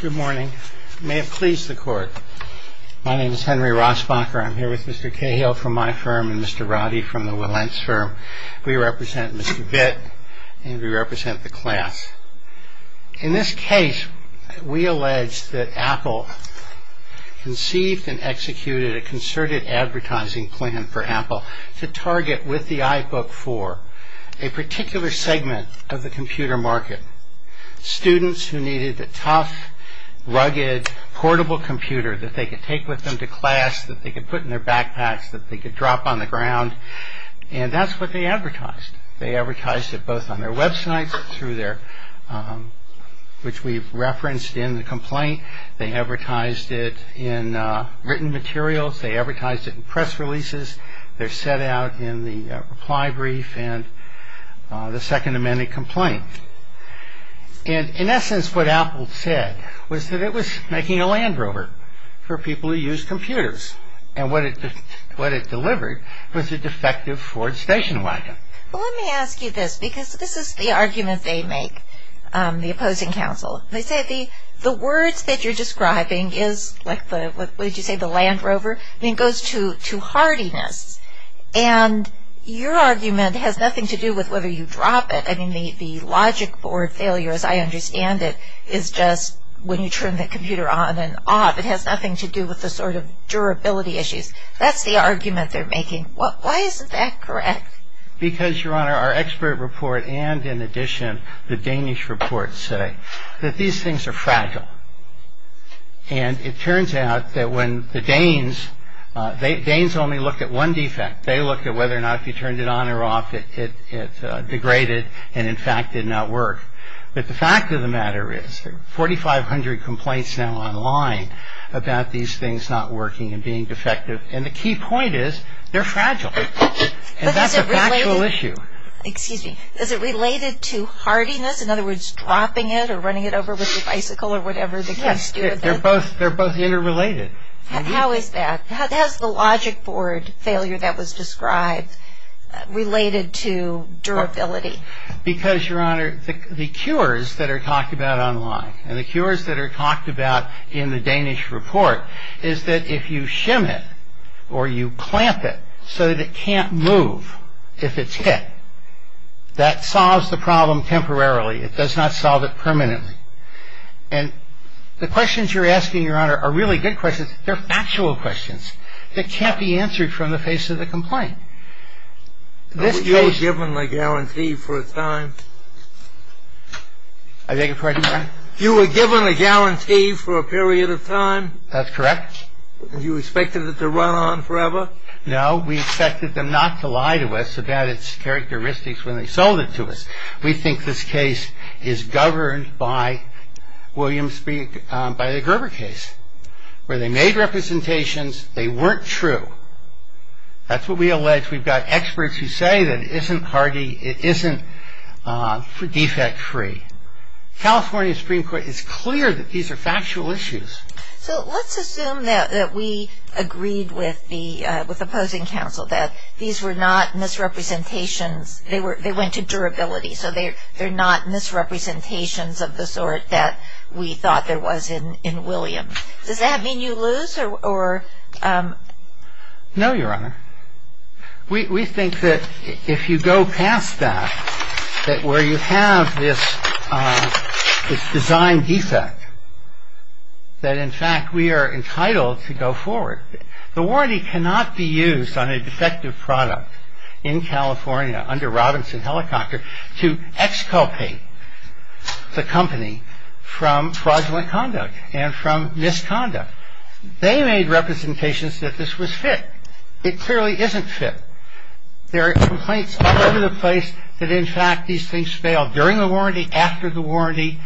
Good morning. May it please the Court. My name is Henry Rosbacher. I'm here with Mr. Cahill from my firm and Mr. Roddy from the Wilentz firm. We represent Mr. Vitt and we represent the class. In this case, we allege that Apple conceived and executed a concerted advertising plan for Apple to target with the iBook 4 a particular segment of the computer market. Students who needed a tough, rugged, portable computer that they could take with them to class, that they could put in their backpacks, that they could drop on the ground. And that's what they advertised. They advertised it both on their website, which we've referenced in the complaint. They advertised it in written materials. They advertised it in press releases. They're set out in the reply brief and the Second Amendment complaint. And in essence, what Apple said was that it was making a Land Rover for people who use computers. And what it delivered was a defective Ford station wagon. Well, let me ask you this, because this is the argument they make, the opposing counsel. They say the words that you're describing is like the, what did you say, the Land Rover? I mean, it goes to hardiness. And your argument has nothing to do with whether you drop it. I mean, the logic board failure, as I understand it, is just when you turn the computer on and off. It has nothing to do with the sort of durability issues. That's the argument they're making. Why isn't that correct? Because, Your Honor, our expert report and, in addition, the Danish report say that these things are fragile. And it turns out that when the Danes, Danes only looked at one defect. They looked at whether or not if you turned it on or off it degraded and, in fact, did not work. But the fact of the matter is there are 4,500 complaints now online about these things not working and being defective. And the key point is they're fragile. And that's a factual issue. Excuse me. Is it related to hardiness? In other words, dropping it or running it over with your bicycle or whatever the case is? Yes. They're both interrelated. How is that? How is the logic board failure that was described related to durability? Because, Your Honor, the cures that are talked about online and the cures that are talked about in the Danish report is that if you shim it or you clamp it so that it can't move if it's hit, that solves the problem temporarily. It does not solve it permanently. And the questions you're asking, Your Honor, are really good questions. They're factual questions that can't be answered from the face of the complaint. But were you given a guarantee for a time? I beg your pardon? You were given a guarantee for a period of time? That's correct. And you expected it to run on forever? No. We expected them not to lie to us about its characteristics when they sold it to us. We think this case is governed by the Gerber case, where they made representations, they weren't true. That's what we allege. We've got experts who say that it isn't hardy, it isn't defect-free. California Supreme Court is clear that these are factual issues. So let's assume that we agreed with the opposing counsel that these were not misrepresentations, they went to durability, so they're not misrepresentations of the sort that we thought there was in Williams. Does that mean you lose? No, Your Honor. We think that if you go past that, that where you have this design defect, that in fact we are entitled to go forward. The warranty cannot be used on a defective product in California under Robinson Helicopter to exculpate the company from fraudulent conduct and from misconduct. They made representations that this was fit. It clearly isn't fit. There are complaints all over the place that in fact these things fail during the warranty, after the warranty,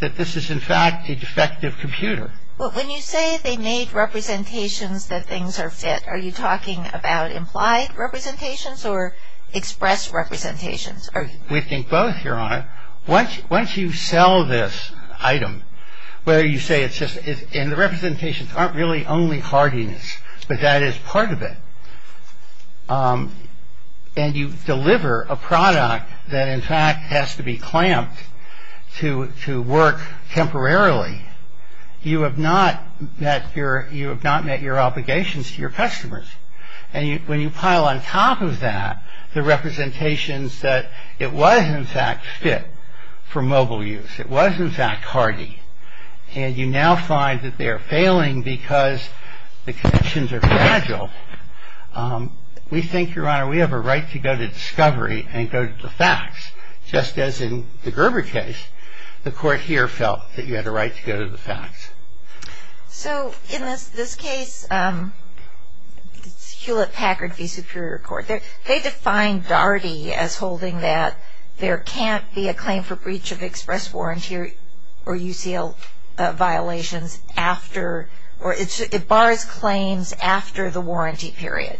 that this is in fact a defective computer. But when you say they made representations that things are fit, are you talking about implied representations or expressed representations? We think both, Your Honor. Once you sell this item, whether you say it's just, and the representations aren't really only hardiness, but that is part of it, and you deliver a product that in fact has to be clamped to work temporarily, you have not met your obligations to your customers. When you pile on top of that the representations that it was in fact fit for mobile use, it was in fact hardy, and you now find that they are failing because the connections are fragile, we think, Your Honor, we have a right to go to discovery and go to the facts, just as in the Gerber case, the court here felt that you had a right to go to the facts. So in this case, Hewlett-Packard v. Superior Court, they defined Dardy as holding that there can't be a claim for breach of express warranty or UCL violations after, or it bars claims after the warranty period.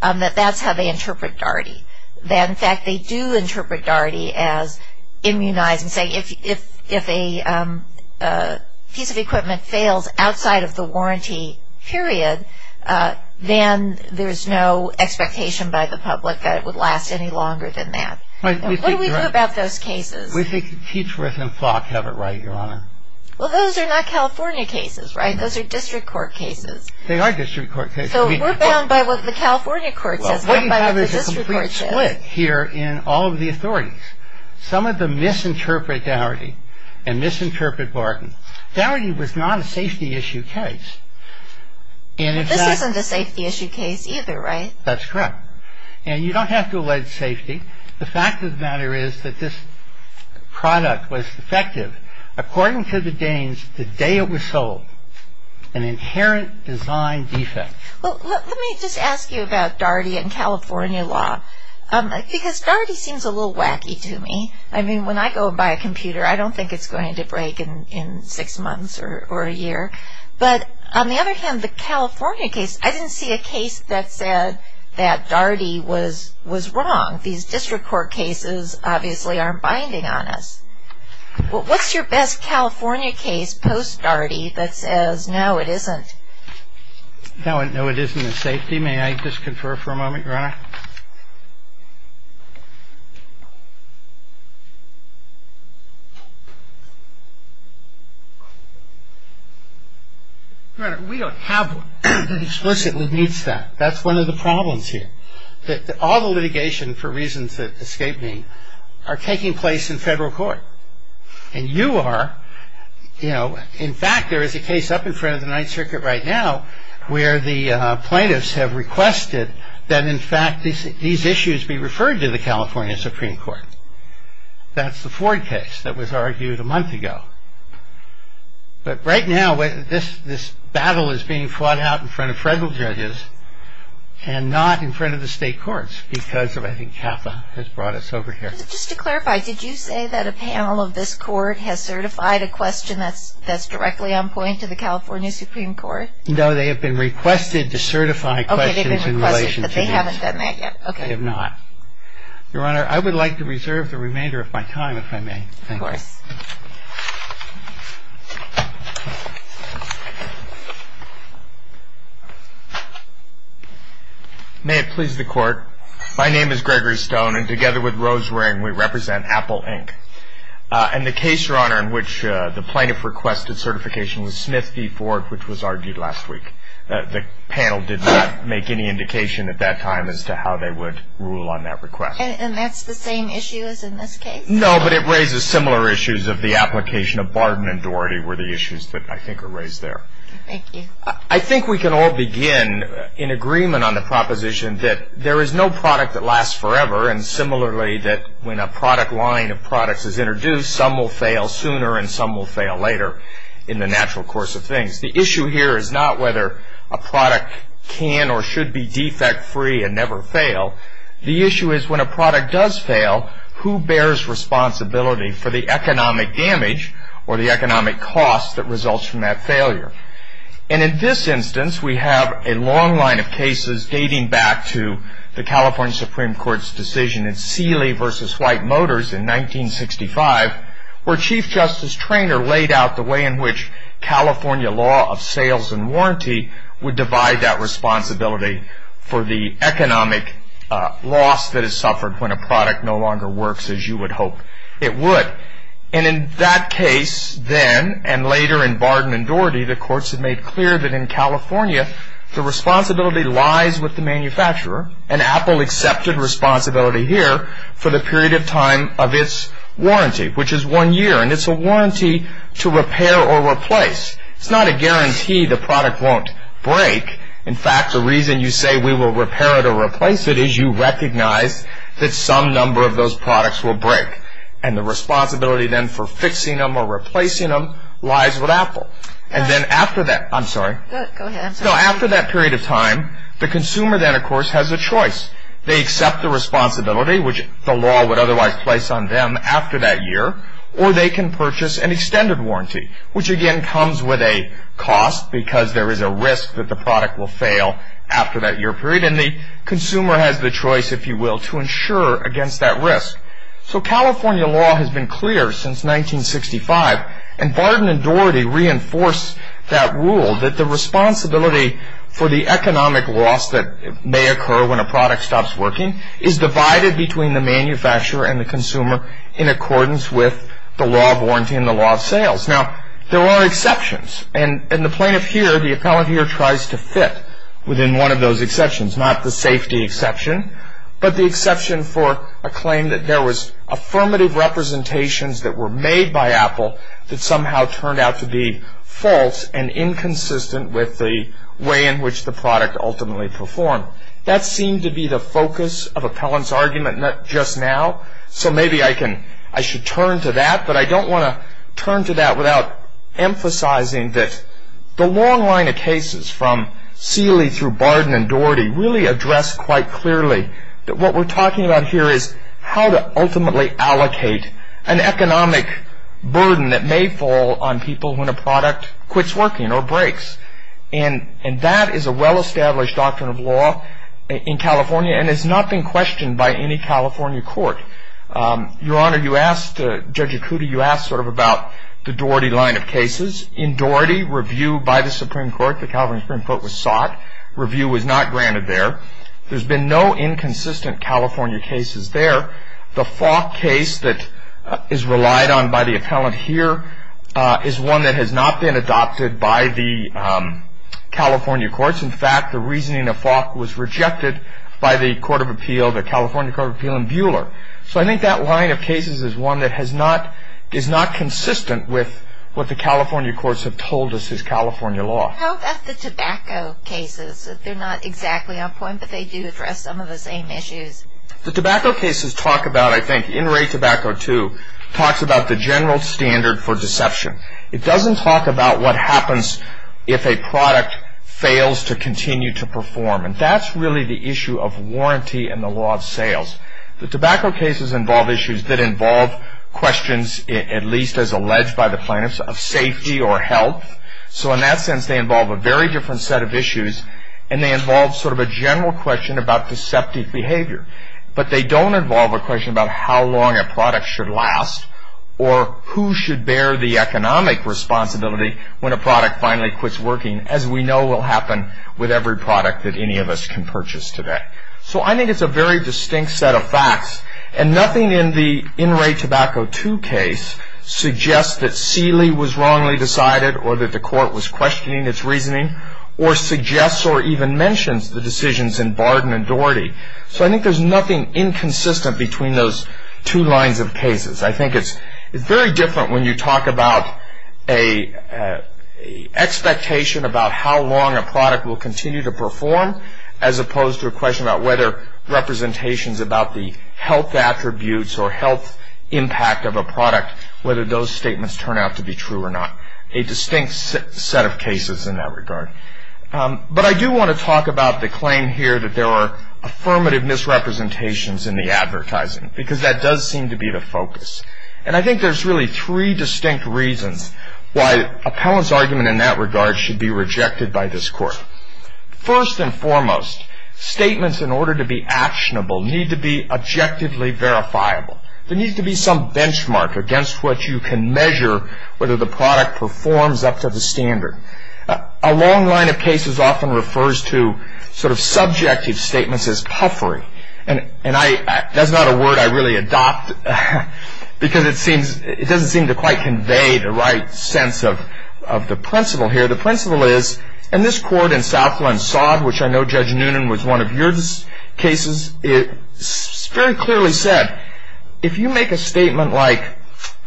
That that's how they interpret Dardy. That in fact they do interpret Dardy as immunizing, saying if a piece of equipment fails outside of the warranty period, then there's no expectation by the public that it would last any longer than that. What do we do about those cases? We think Teachworth and Flock have it right, Your Honor. Well, those are not California cases, right? Those are district court cases. They are district court cases. So we're bound by what the California court says, we're bound by what the district court says. What you have is a complete split here in all of the authorities. Some of them misinterpret Dardy and misinterpret Barton. Dardy was not a safety issue case. This isn't a safety issue case either, right? That's correct. And you don't have to allege safety. The fact of the matter is that this product was defective. According to the Danes, the day it was sold, an inherent design defect. Let me just ask you about Dardy and California law. Because Dardy seems a little wacky to me. I mean, when I go and buy a computer, I don't think it's going to break in six months or a year. But on the other hand, the California case, I didn't see a case that said that Dardy was wrong. These district court cases obviously aren't binding on us. What's your best California case post-Dardy that says, no, it isn't? No, it isn't a safety. May I just confer for a moment, Your Honor? Your Honor, we don't have one that explicitly meets that. That's one of the problems here. All the litigation, for reasons that escape me, are taking place in federal court. And you are, you know, in fact, there is a case up in front of the Ninth Circuit right now where the plaintiffs have requested that, in fact, these issues be referred to the California Supreme Court. That's the Ford case that was argued a month ago. But right now, this battle is being fought out in front of federal judges and not in front of the state courts because of, I think, Kappa has brought us over here. Just to clarify, did you say that a panel of this court has certified a question that's directly on point to the California Supreme Court? No, they have been requested to certify questions in relation to these. They haven't done that yet? They have not. Your Honor, I would like to reserve the remainder of my time, if I may. May it please the Court. My name is Gregory Stone, and together with Rose Ring, we represent Apple Inc. And the case, Your Honor, in which the plaintiff requested certification was Smith v. Ford, which was argued last week. The panel did not make any indication at that time as to how they would rule on that request. And that's the same issue as in this case? No, but it raises similar issues of the application of Barden and Doherty were the issues that I think are raised there. Thank you. I think we can all begin in agreement on the proposition that there is no product that lasts forever. And similarly, that when a product line of products is introduced, some will fail sooner and some will fail later in the natural course of things. The issue here is not whether a product can or should be defect-free and never fail. The issue is when a product does fail, who bears responsibility for the economic damage or the economic cost that results from that failure? And in this instance, we have a long line of cases dating back to the California Supreme Court's decision in Seeley v. White Motors in 1965, where Chief Justice Treanor laid out the way in which California law of sales and warranty would divide that responsibility for the economic loss that is suffered when a product no longer works as you would hope it would. And in that case then, and later in Barden and Doherty, the courts have made clear that in California, the responsibility lies with the manufacturer, and Apple accepted responsibility here for the period of time of its warranty, which is one year, and it's a warranty to repair or replace. It's not a guarantee the product won't break. In fact, the reason you say we will repair it or replace it is you recognize that some number of those products will break. And the responsibility then for fixing them or replacing them lies with Apple. And then after that, I'm sorry. So after that period of time, the consumer then, of course, has a choice. They accept the responsibility, which the law would otherwise place on them after that year, or they can purchase an extended warranty, which again comes with a cost because there is a risk that the product will fail after that year period. And the consumer has the choice, if you will, to insure against that risk. So California law has been clear since 1965, and Barden and Doherty reinforce that rule that the responsibility for the economic loss that may occur when a product stops working is divided between the manufacturer and the consumer in accordance with the law of warranty and the law of sales. Now, there are exceptions. And the plaintiff here, the appellant here, tries to fit within one of those exceptions, not the safety exception, but the exception for a claim that there was affirmative representations that were made by Apple that somehow turned out to be false and inconsistent with the way in which the product ultimately performed. That seemed to be the focus of appellant's argument just now, so maybe I should turn to that, but I don't want to turn to that without emphasizing that the long line of cases from Seeley through Barden and Doherty really address quite clearly that what we're talking about here is how to ultimately allocate an economic burden that may fall on people when a product quits working or breaks. And that is a well-established doctrine of law in California and has not been questioned by any California court. Your Honor, you asked Judge Ikuti, you asked sort of about the Doherty line of cases. In Doherty, review by the Supreme Court, the California Supreme Court was sought. Review was not granted there. There's been no inconsistent California cases there. The Falk case that is relied on by the appellant here is one that has not been adopted by the California courts. In fact, the reasoning of Falk was rejected by the California Court of Appeal in Bueller. So I think that line of cases is one that is not consistent with what the California courts have told us is California law. How about the tobacco cases? They're not exactly on point, but they do address some of the same issues. The tobacco cases talk about, I think, in rate tobacco too, talks about the general standard for deception. It doesn't talk about what happens if a product fails to continue to perform. And that's really the issue of warranty and the law of sales. The tobacco cases involve issues that involve questions, at least as alleged by the plaintiffs, of safety or health. So in that sense, they involve a very different set of issues and they involve sort of a general question about deceptive behavior. But they don't involve a question about how long a product should last or who should bear the economic responsibility when a product finally quits working, as we know will happen with every product that any of us can purchase today. So I think it's a very distinct set of facts and nothing in the in-rate tobacco too case suggests that Seeley was wrongly decided or that the court was questioning its reasoning or suggests or even mentions the decisions in Barden and Doherty. So I think there's nothing inconsistent between those two lines of cases. I think it's very different when you talk about an expectation about how long a product will continue to perform as opposed to a question about whether representations about the health attributes or health impact of a product, whether those statements turn out to be true or not. A distinct set of cases in that regard. But I do want to talk about the claim here that there are affirmative misrepresentations in the advertising because that does seem to be the focus. And I think there's really three distinct reasons why appellant's argument in that regard should be rejected by this court. First and foremost, statements in order to be actionable need to be objectively verifiable. There needs to be some benchmark against what you can measure whether the product performs up to the standard. A long line of cases often refers to sort of subjective statements as puffery. And that's not a word I really adopt because it doesn't seem to quite convey the right sense of the principle here. The principle is, and this court in Southland-Sod, which I know Judge Noonan was one of your cases, it very clearly said, if you make a statement like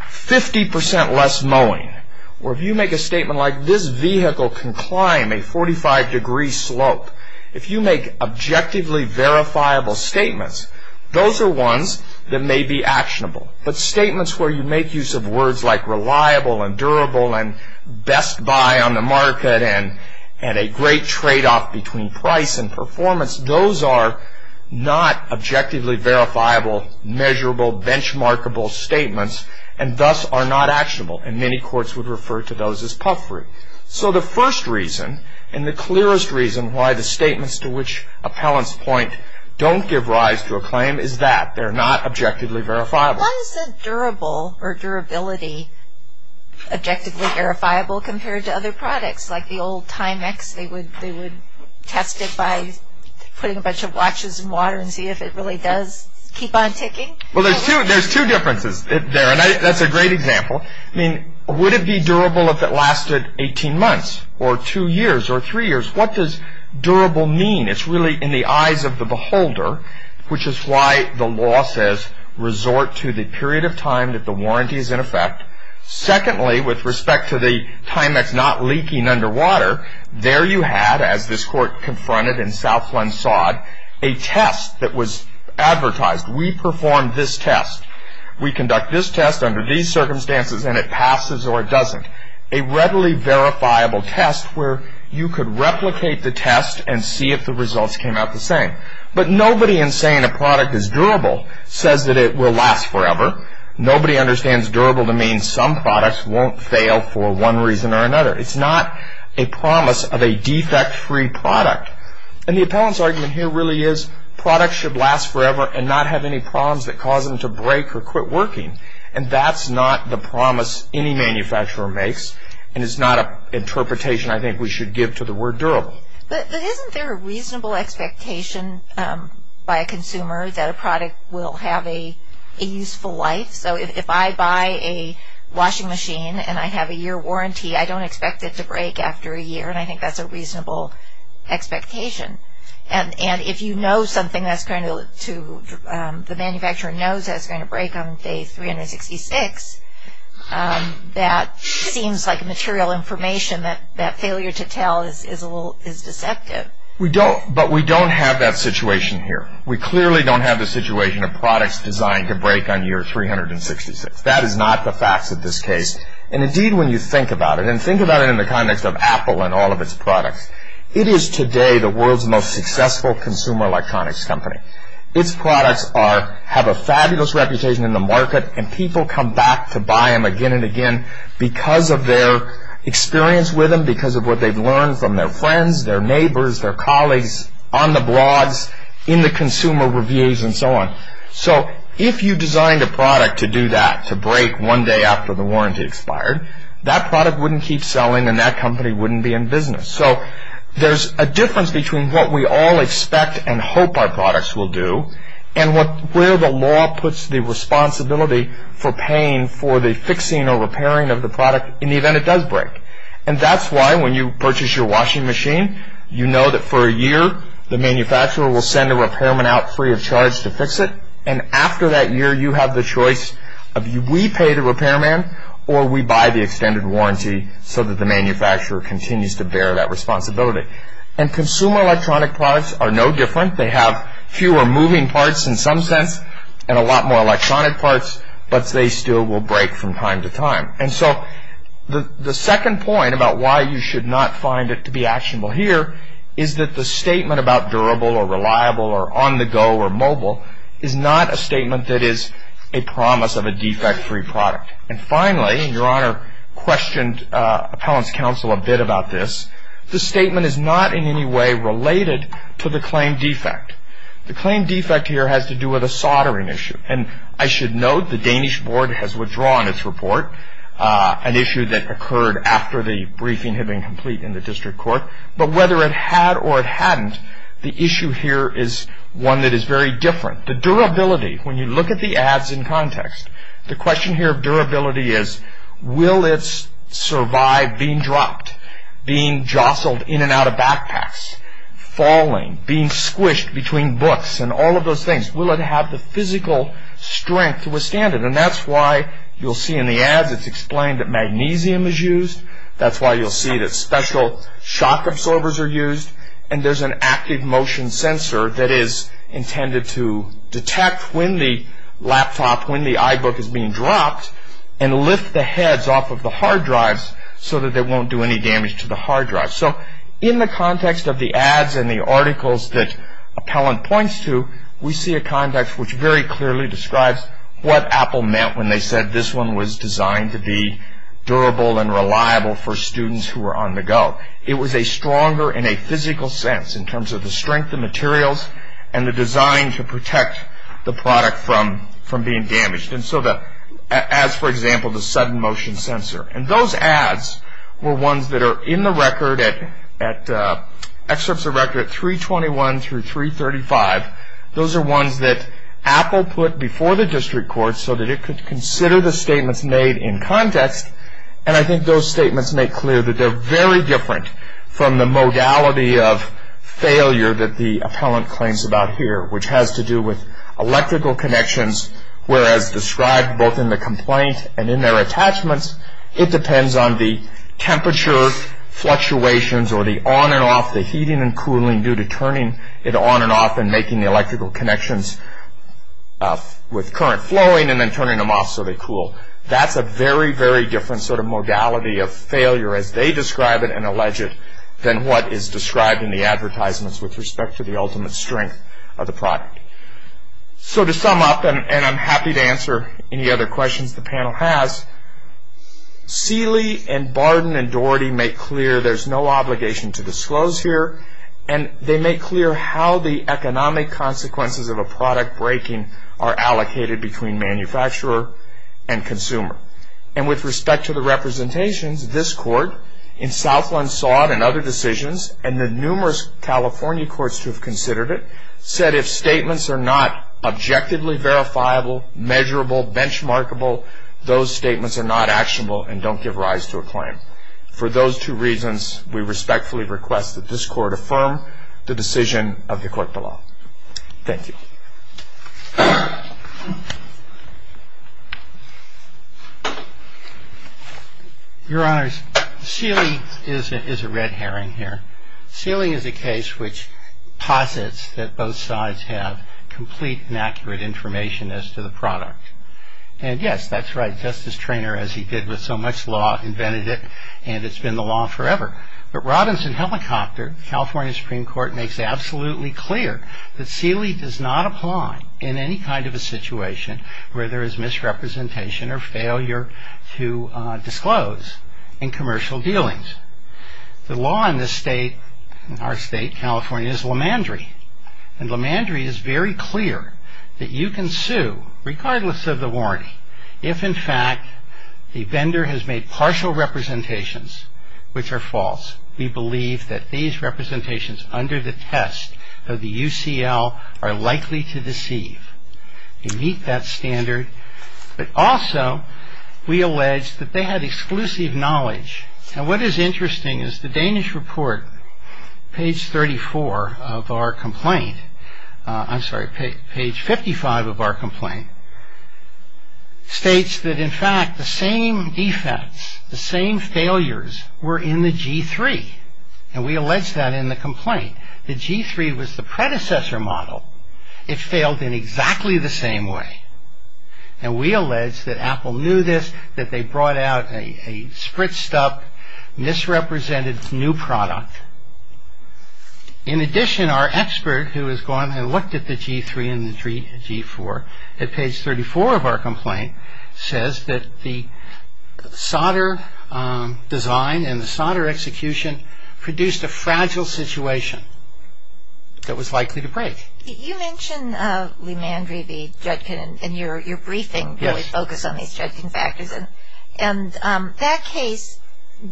50% less mowing or if you make a statement like this vehicle can climb a 45-degree slope, if you make objectively verifiable statements, those are ones that may be actionable. But statements where you make use of words like reliable and durable and best buy on the market and a great trade-off between price and performance, those are not objectively verifiable, measurable, benchmarkable statements and thus are not actionable. And many courts would refer to those as puffery. So the first reason and the clearest reason why the statements to which appellants point don't give rise to a claim is that they're not objectively verifiable. Why is the durable or durability objectively verifiable compared to other products like the old Timex? They would test it by putting a bunch of watches in water and see if it really does keep on ticking. Well, there's two differences there. And that's a great example. Would it be durable if it lasted 18 months or two years or three years? What does durable mean? It's really in the eyes of the beholder, which is why the law says resort to the period of time that the warranty is in effect. Secondly, with respect to the Timex not leaking underwater, there you had, as this court confronted in Southland Sod, a test that was advertised. We performed this test. We conduct this test under these circumstances and it passes or it doesn't. A readily verifiable test where you could replicate the test and see if the results came out the same. But nobody in saying a product is durable says that it will last forever. Nobody understands durable to mean some products won't fail for one reason or another. It's not a promise of a defect-free product. And the appellant's argument here really is products should last forever and not have any problems that cause them to break or quit working. And that's not the promise any manufacturer makes and it's not an interpretation I think we should give to the word durable. But isn't there a reasonable expectation by a consumer that a product will have a useful life? So if I buy a washing machine and I have a year warranty, I don't expect it to break after a year and I think that's a reasonable expectation. And if you know something that's going to, the manufacturer knows that it's going to break on day 366, that seems like material information that failure to tell is deceptive. But we don't have that situation here. We clearly don't have the situation of products designed to break on year 366. That is not the facts of this case. And indeed when you think about it, and think about it in the context of Apple and all of its products, it is today the world's most successful consumer electronics company. Its products have a fabulous reputation in the market and people come back to buy them again and again because of their experience with them, because of what they've learned from their friends, their neighbors, their colleagues, on the blogs, in the consumer reviews and so on. So if you designed a product to do that, to break one day after the warranty expired, that product wouldn't keep selling and that company wouldn't be in business. So there's a difference between what we all expect and hope our products will do and where the law puts the responsibility for paying for the fixing or repairing of the product in the event it does break. And that's why when you purchase your washing machine, you know that for a year the manufacturer will send a repairman out free of charge to fix it and after that year you have the choice of we pay the repairman or we buy the extended warranty so that the manufacturer continues to bear that responsibility. And consumer electronic products are no different. They have fewer moving parts in some sense and a lot more electronic parts but they still will break from time to time. And so the second point about why you should not find it to be actionable here is that the statement about durable or reliable or on-the-go or mobile is not a statement that is a promise of a defect-free product. And finally, and Your Honor questioned Appellant's Counsel a bit about this, the statement is not in any way related to the claim defect. The claim defect here has to do with a soldering issue and I should note the Danish board has withdrawn its report, an issue that occurred after the briefing had been complete in the district court. But whether it had or it hadn't, the issue here is one that is very different. The durability, when you look at the ads in context, the question here of durability is will it survive being dropped, being jostled in and out of backpacks, falling, being squished between books and all of those things. Will it have the physical strength to withstand it? And that's why you'll see in the ads it's explained that magnesium is used. That's why you'll see that special shock absorbers are used and there's an active motion sensor that is intended to detect when the laptop, when the iBook is being dropped and lift the heads off of the hard drives so that they won't do any damage to the hard drive. So in the context of the ads and the articles that Appellant points to, we see a context which very clearly describes what Apple meant when they said this one was designed to be durable and reliable for students who were on the go. It was a stronger and a physical sense in terms of the strength of materials and the design to protect the product from being damaged. And so that, as for example, the sudden motion sensor. And those ads were ones that are in the record at excerpts of record at 321 through 335. Those are ones that Apple put before the district court so that it could consider the statements made in context. And I think those statements make clear that they're very different from the modality of failure that the Appellant claims about here, which has to do with electrical connections, whereas described both in the complaint and in their attachments, it depends on the temperature fluctuations or the on and off, the heating and cooling due to turning it on and off and making the electrical connections with current flowing and then turning them off so they cool. That's a very, very different sort of modality of failure as they describe it and allege it than what is described in the advertisements with respect to the ultimate strength of the product. So to sum up, and I'm happy to answer any other questions the panel has, Seeley and Barden and Doherty make clear there's no obligation to disclose here and they make clear how the economic consequences of a product breaking are allocated between manufacturer and consumer. And with respect to the representations, this court in Southland saw it in other decisions and the numerous California courts to have considered it said if statements are not objectively verifiable, measurable, benchmarkable, those statements are not actionable and don't give rise to a claim. For those two reasons, we respectfully request that this court affirm the decision of the court below. Thank you. Your Honor, Seeley is a red herring here. Seeley is a case which posits that both sides have complete and accurate information as to the product. And yes, that's right, Justice Treanor, as he did with so much law, invented it and it's been the law forever. But Robinson Helicopter, California Supreme Court, makes absolutely clear that Seeley does not apply in any kind of a situation where there is misrepresentation or failure to disclose in commercial dealings. The law in this state, in our state, California, is Lemandry. And Lemandry is very clear that you can sue regardless of the warranty. If, in fact, the vendor has made partial representations, which are false, we believe that these representations under the test of the UCL are likely to deceive. You meet that standard. But also, we allege that they had exclusive knowledge. And what is interesting is the Danish report, page 34 of our complaint, I'm sorry, page 55 of our complaint, states that, in fact, the same defense, the same failures, were in the G3. And we allege that in the complaint. The G3 was the predecessor model. It failed in exactly the same way. And we allege that Apple knew this, that they brought out a spritzed up, misrepresented new product. In addition, our expert, who has gone and looked at the G3 and the G4, at page 34 of our complaint, says that the solder design and the solder execution produced a fragile situation that was likely to break. You mention LeMandry v. Judkin in your briefing, where we focus on these Judkin factors. And that case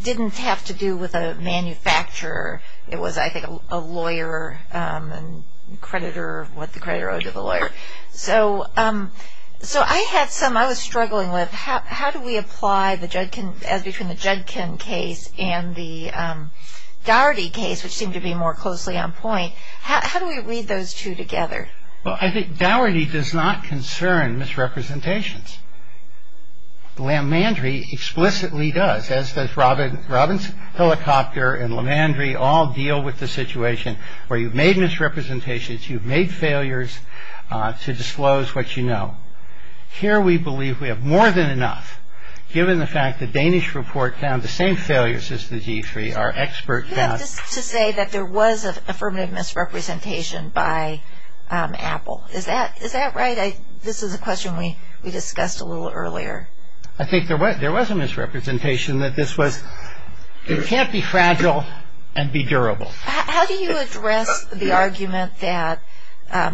didn't have to do with a manufacturer. It was, I think, a lawyer and creditor or what the creditor owed to the lawyer. So, I had some I was struggling with. How do we apply as between the Judkin case and the Dougherty case, which seemed to be more closely on point. How do we read those two together? Well, I think Dougherty does not concern misrepresentations. LeMandry explicitly does, as does Robinson Helicopter and LeMandry all deal with the situation where you've made misrepresentations, you've made failures to disclose what you know. Here, we believe we have more than enough, given the fact the Danish report found the same failures as the G3, our expert found. You have to say that there was an affirmative misrepresentation by Apple. Is that right? This is a question we discussed a little earlier. I think there was a misrepresentation that this was it can't be fragile and be durable. How do you address the argument that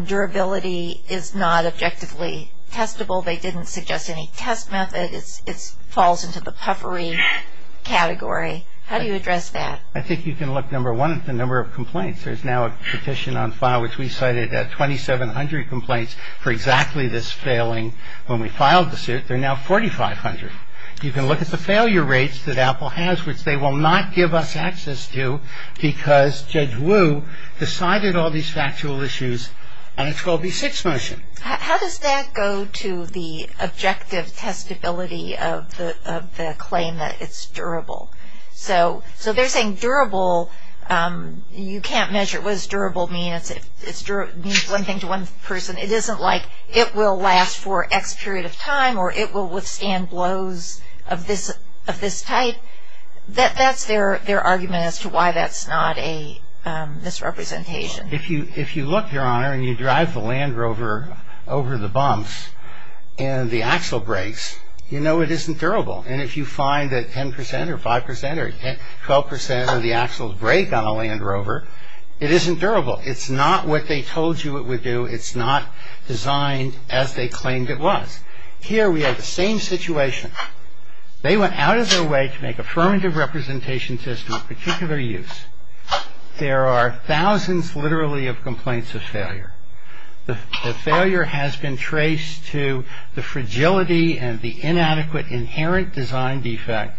durability is not objectively testable? They didn't suggest any test method. It falls into the puffery category. How do you address that? I think you can look, number one, at the number of complaints. There's now a petition on file which we cited at 2,700 complaints for exactly this failing when we filed the suit. They're now 4,500. You can look at the failure rates that Apple has, which they will not give us access to because Judge Wu, decided all these factual issues and it's called the Sixth Motion. How does that go to the objective testability of the claim that it's durable? So they're saying durable, you can't measure what does durable mean? It means one thing to one person. It isn't like it will last for X period of time or it will withstand blows of this type. That's their argument as to why that's not this representation. If you look, Your Honor, and you drive the Land Rover over the bumps and the axle breaks, you know it isn't durable. And if you find that 10% or 5% or 12% of the axles break on a Land Rover, it isn't durable. It's not what they told you it would do. It's not designed as they claimed it was. Here we have the same situation. They went out of their way to make affirmative representation tests for a particular use. There are thousands literally of complaints of failure. The failure has been traced to the fragility and the inadequate inherent design defect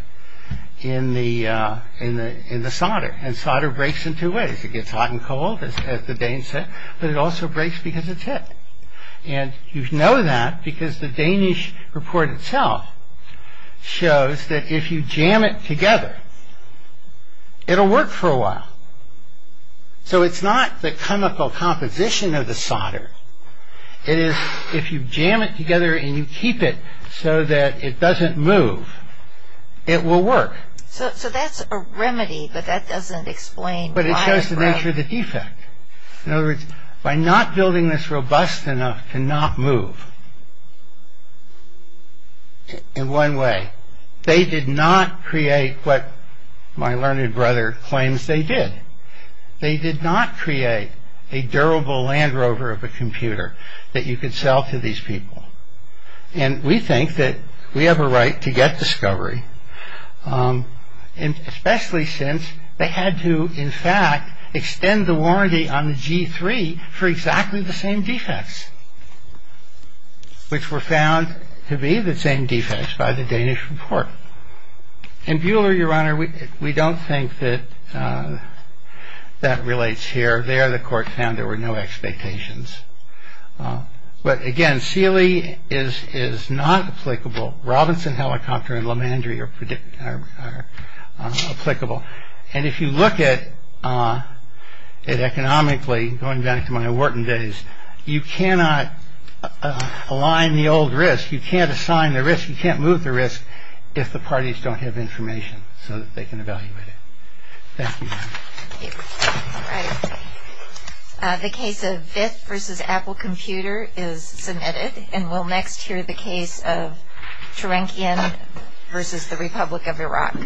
in the solder. And solder breaks in two ways. It gets hot and cold, as the Danes said, but it also breaks because it's hit. And you know that because the Danish report itself shows that if you jam it together, it'll work for a while. So it's not the chemical composition of the solder. It is if you jam it together and you keep it so that it doesn't move, it will work. So that's a remedy, but that doesn't explain why, right? But it shows the nature of the defect. In other words, by not building this robust enough to not move in one way, they did not create what my learned brother claims they did. They did not create a durable Land Rover of a computer that you could sell to these people. And we think that we have a right to get discovery. And especially since they had to, in fact, extend the warranty on the G3 for exactly the same defects, which were found to be the same defects by the Danish report. And Buehler, your honor, we don't think that that relates here. There the court found there were no expectations. But again, Seeley is not applicable. Robinson Helicopter and LeMandry are applicable. And if you look at it economically, going back to my Wharton days, you cannot align the old risk. You can't assign the risk. You can't move the risk if the parties don't have information so that they can evaluate it. Thank you. All right. The case of Vith versus Apple Computer is submitted. And we'll next hear the case of Turankian versus the Republic of Iraq.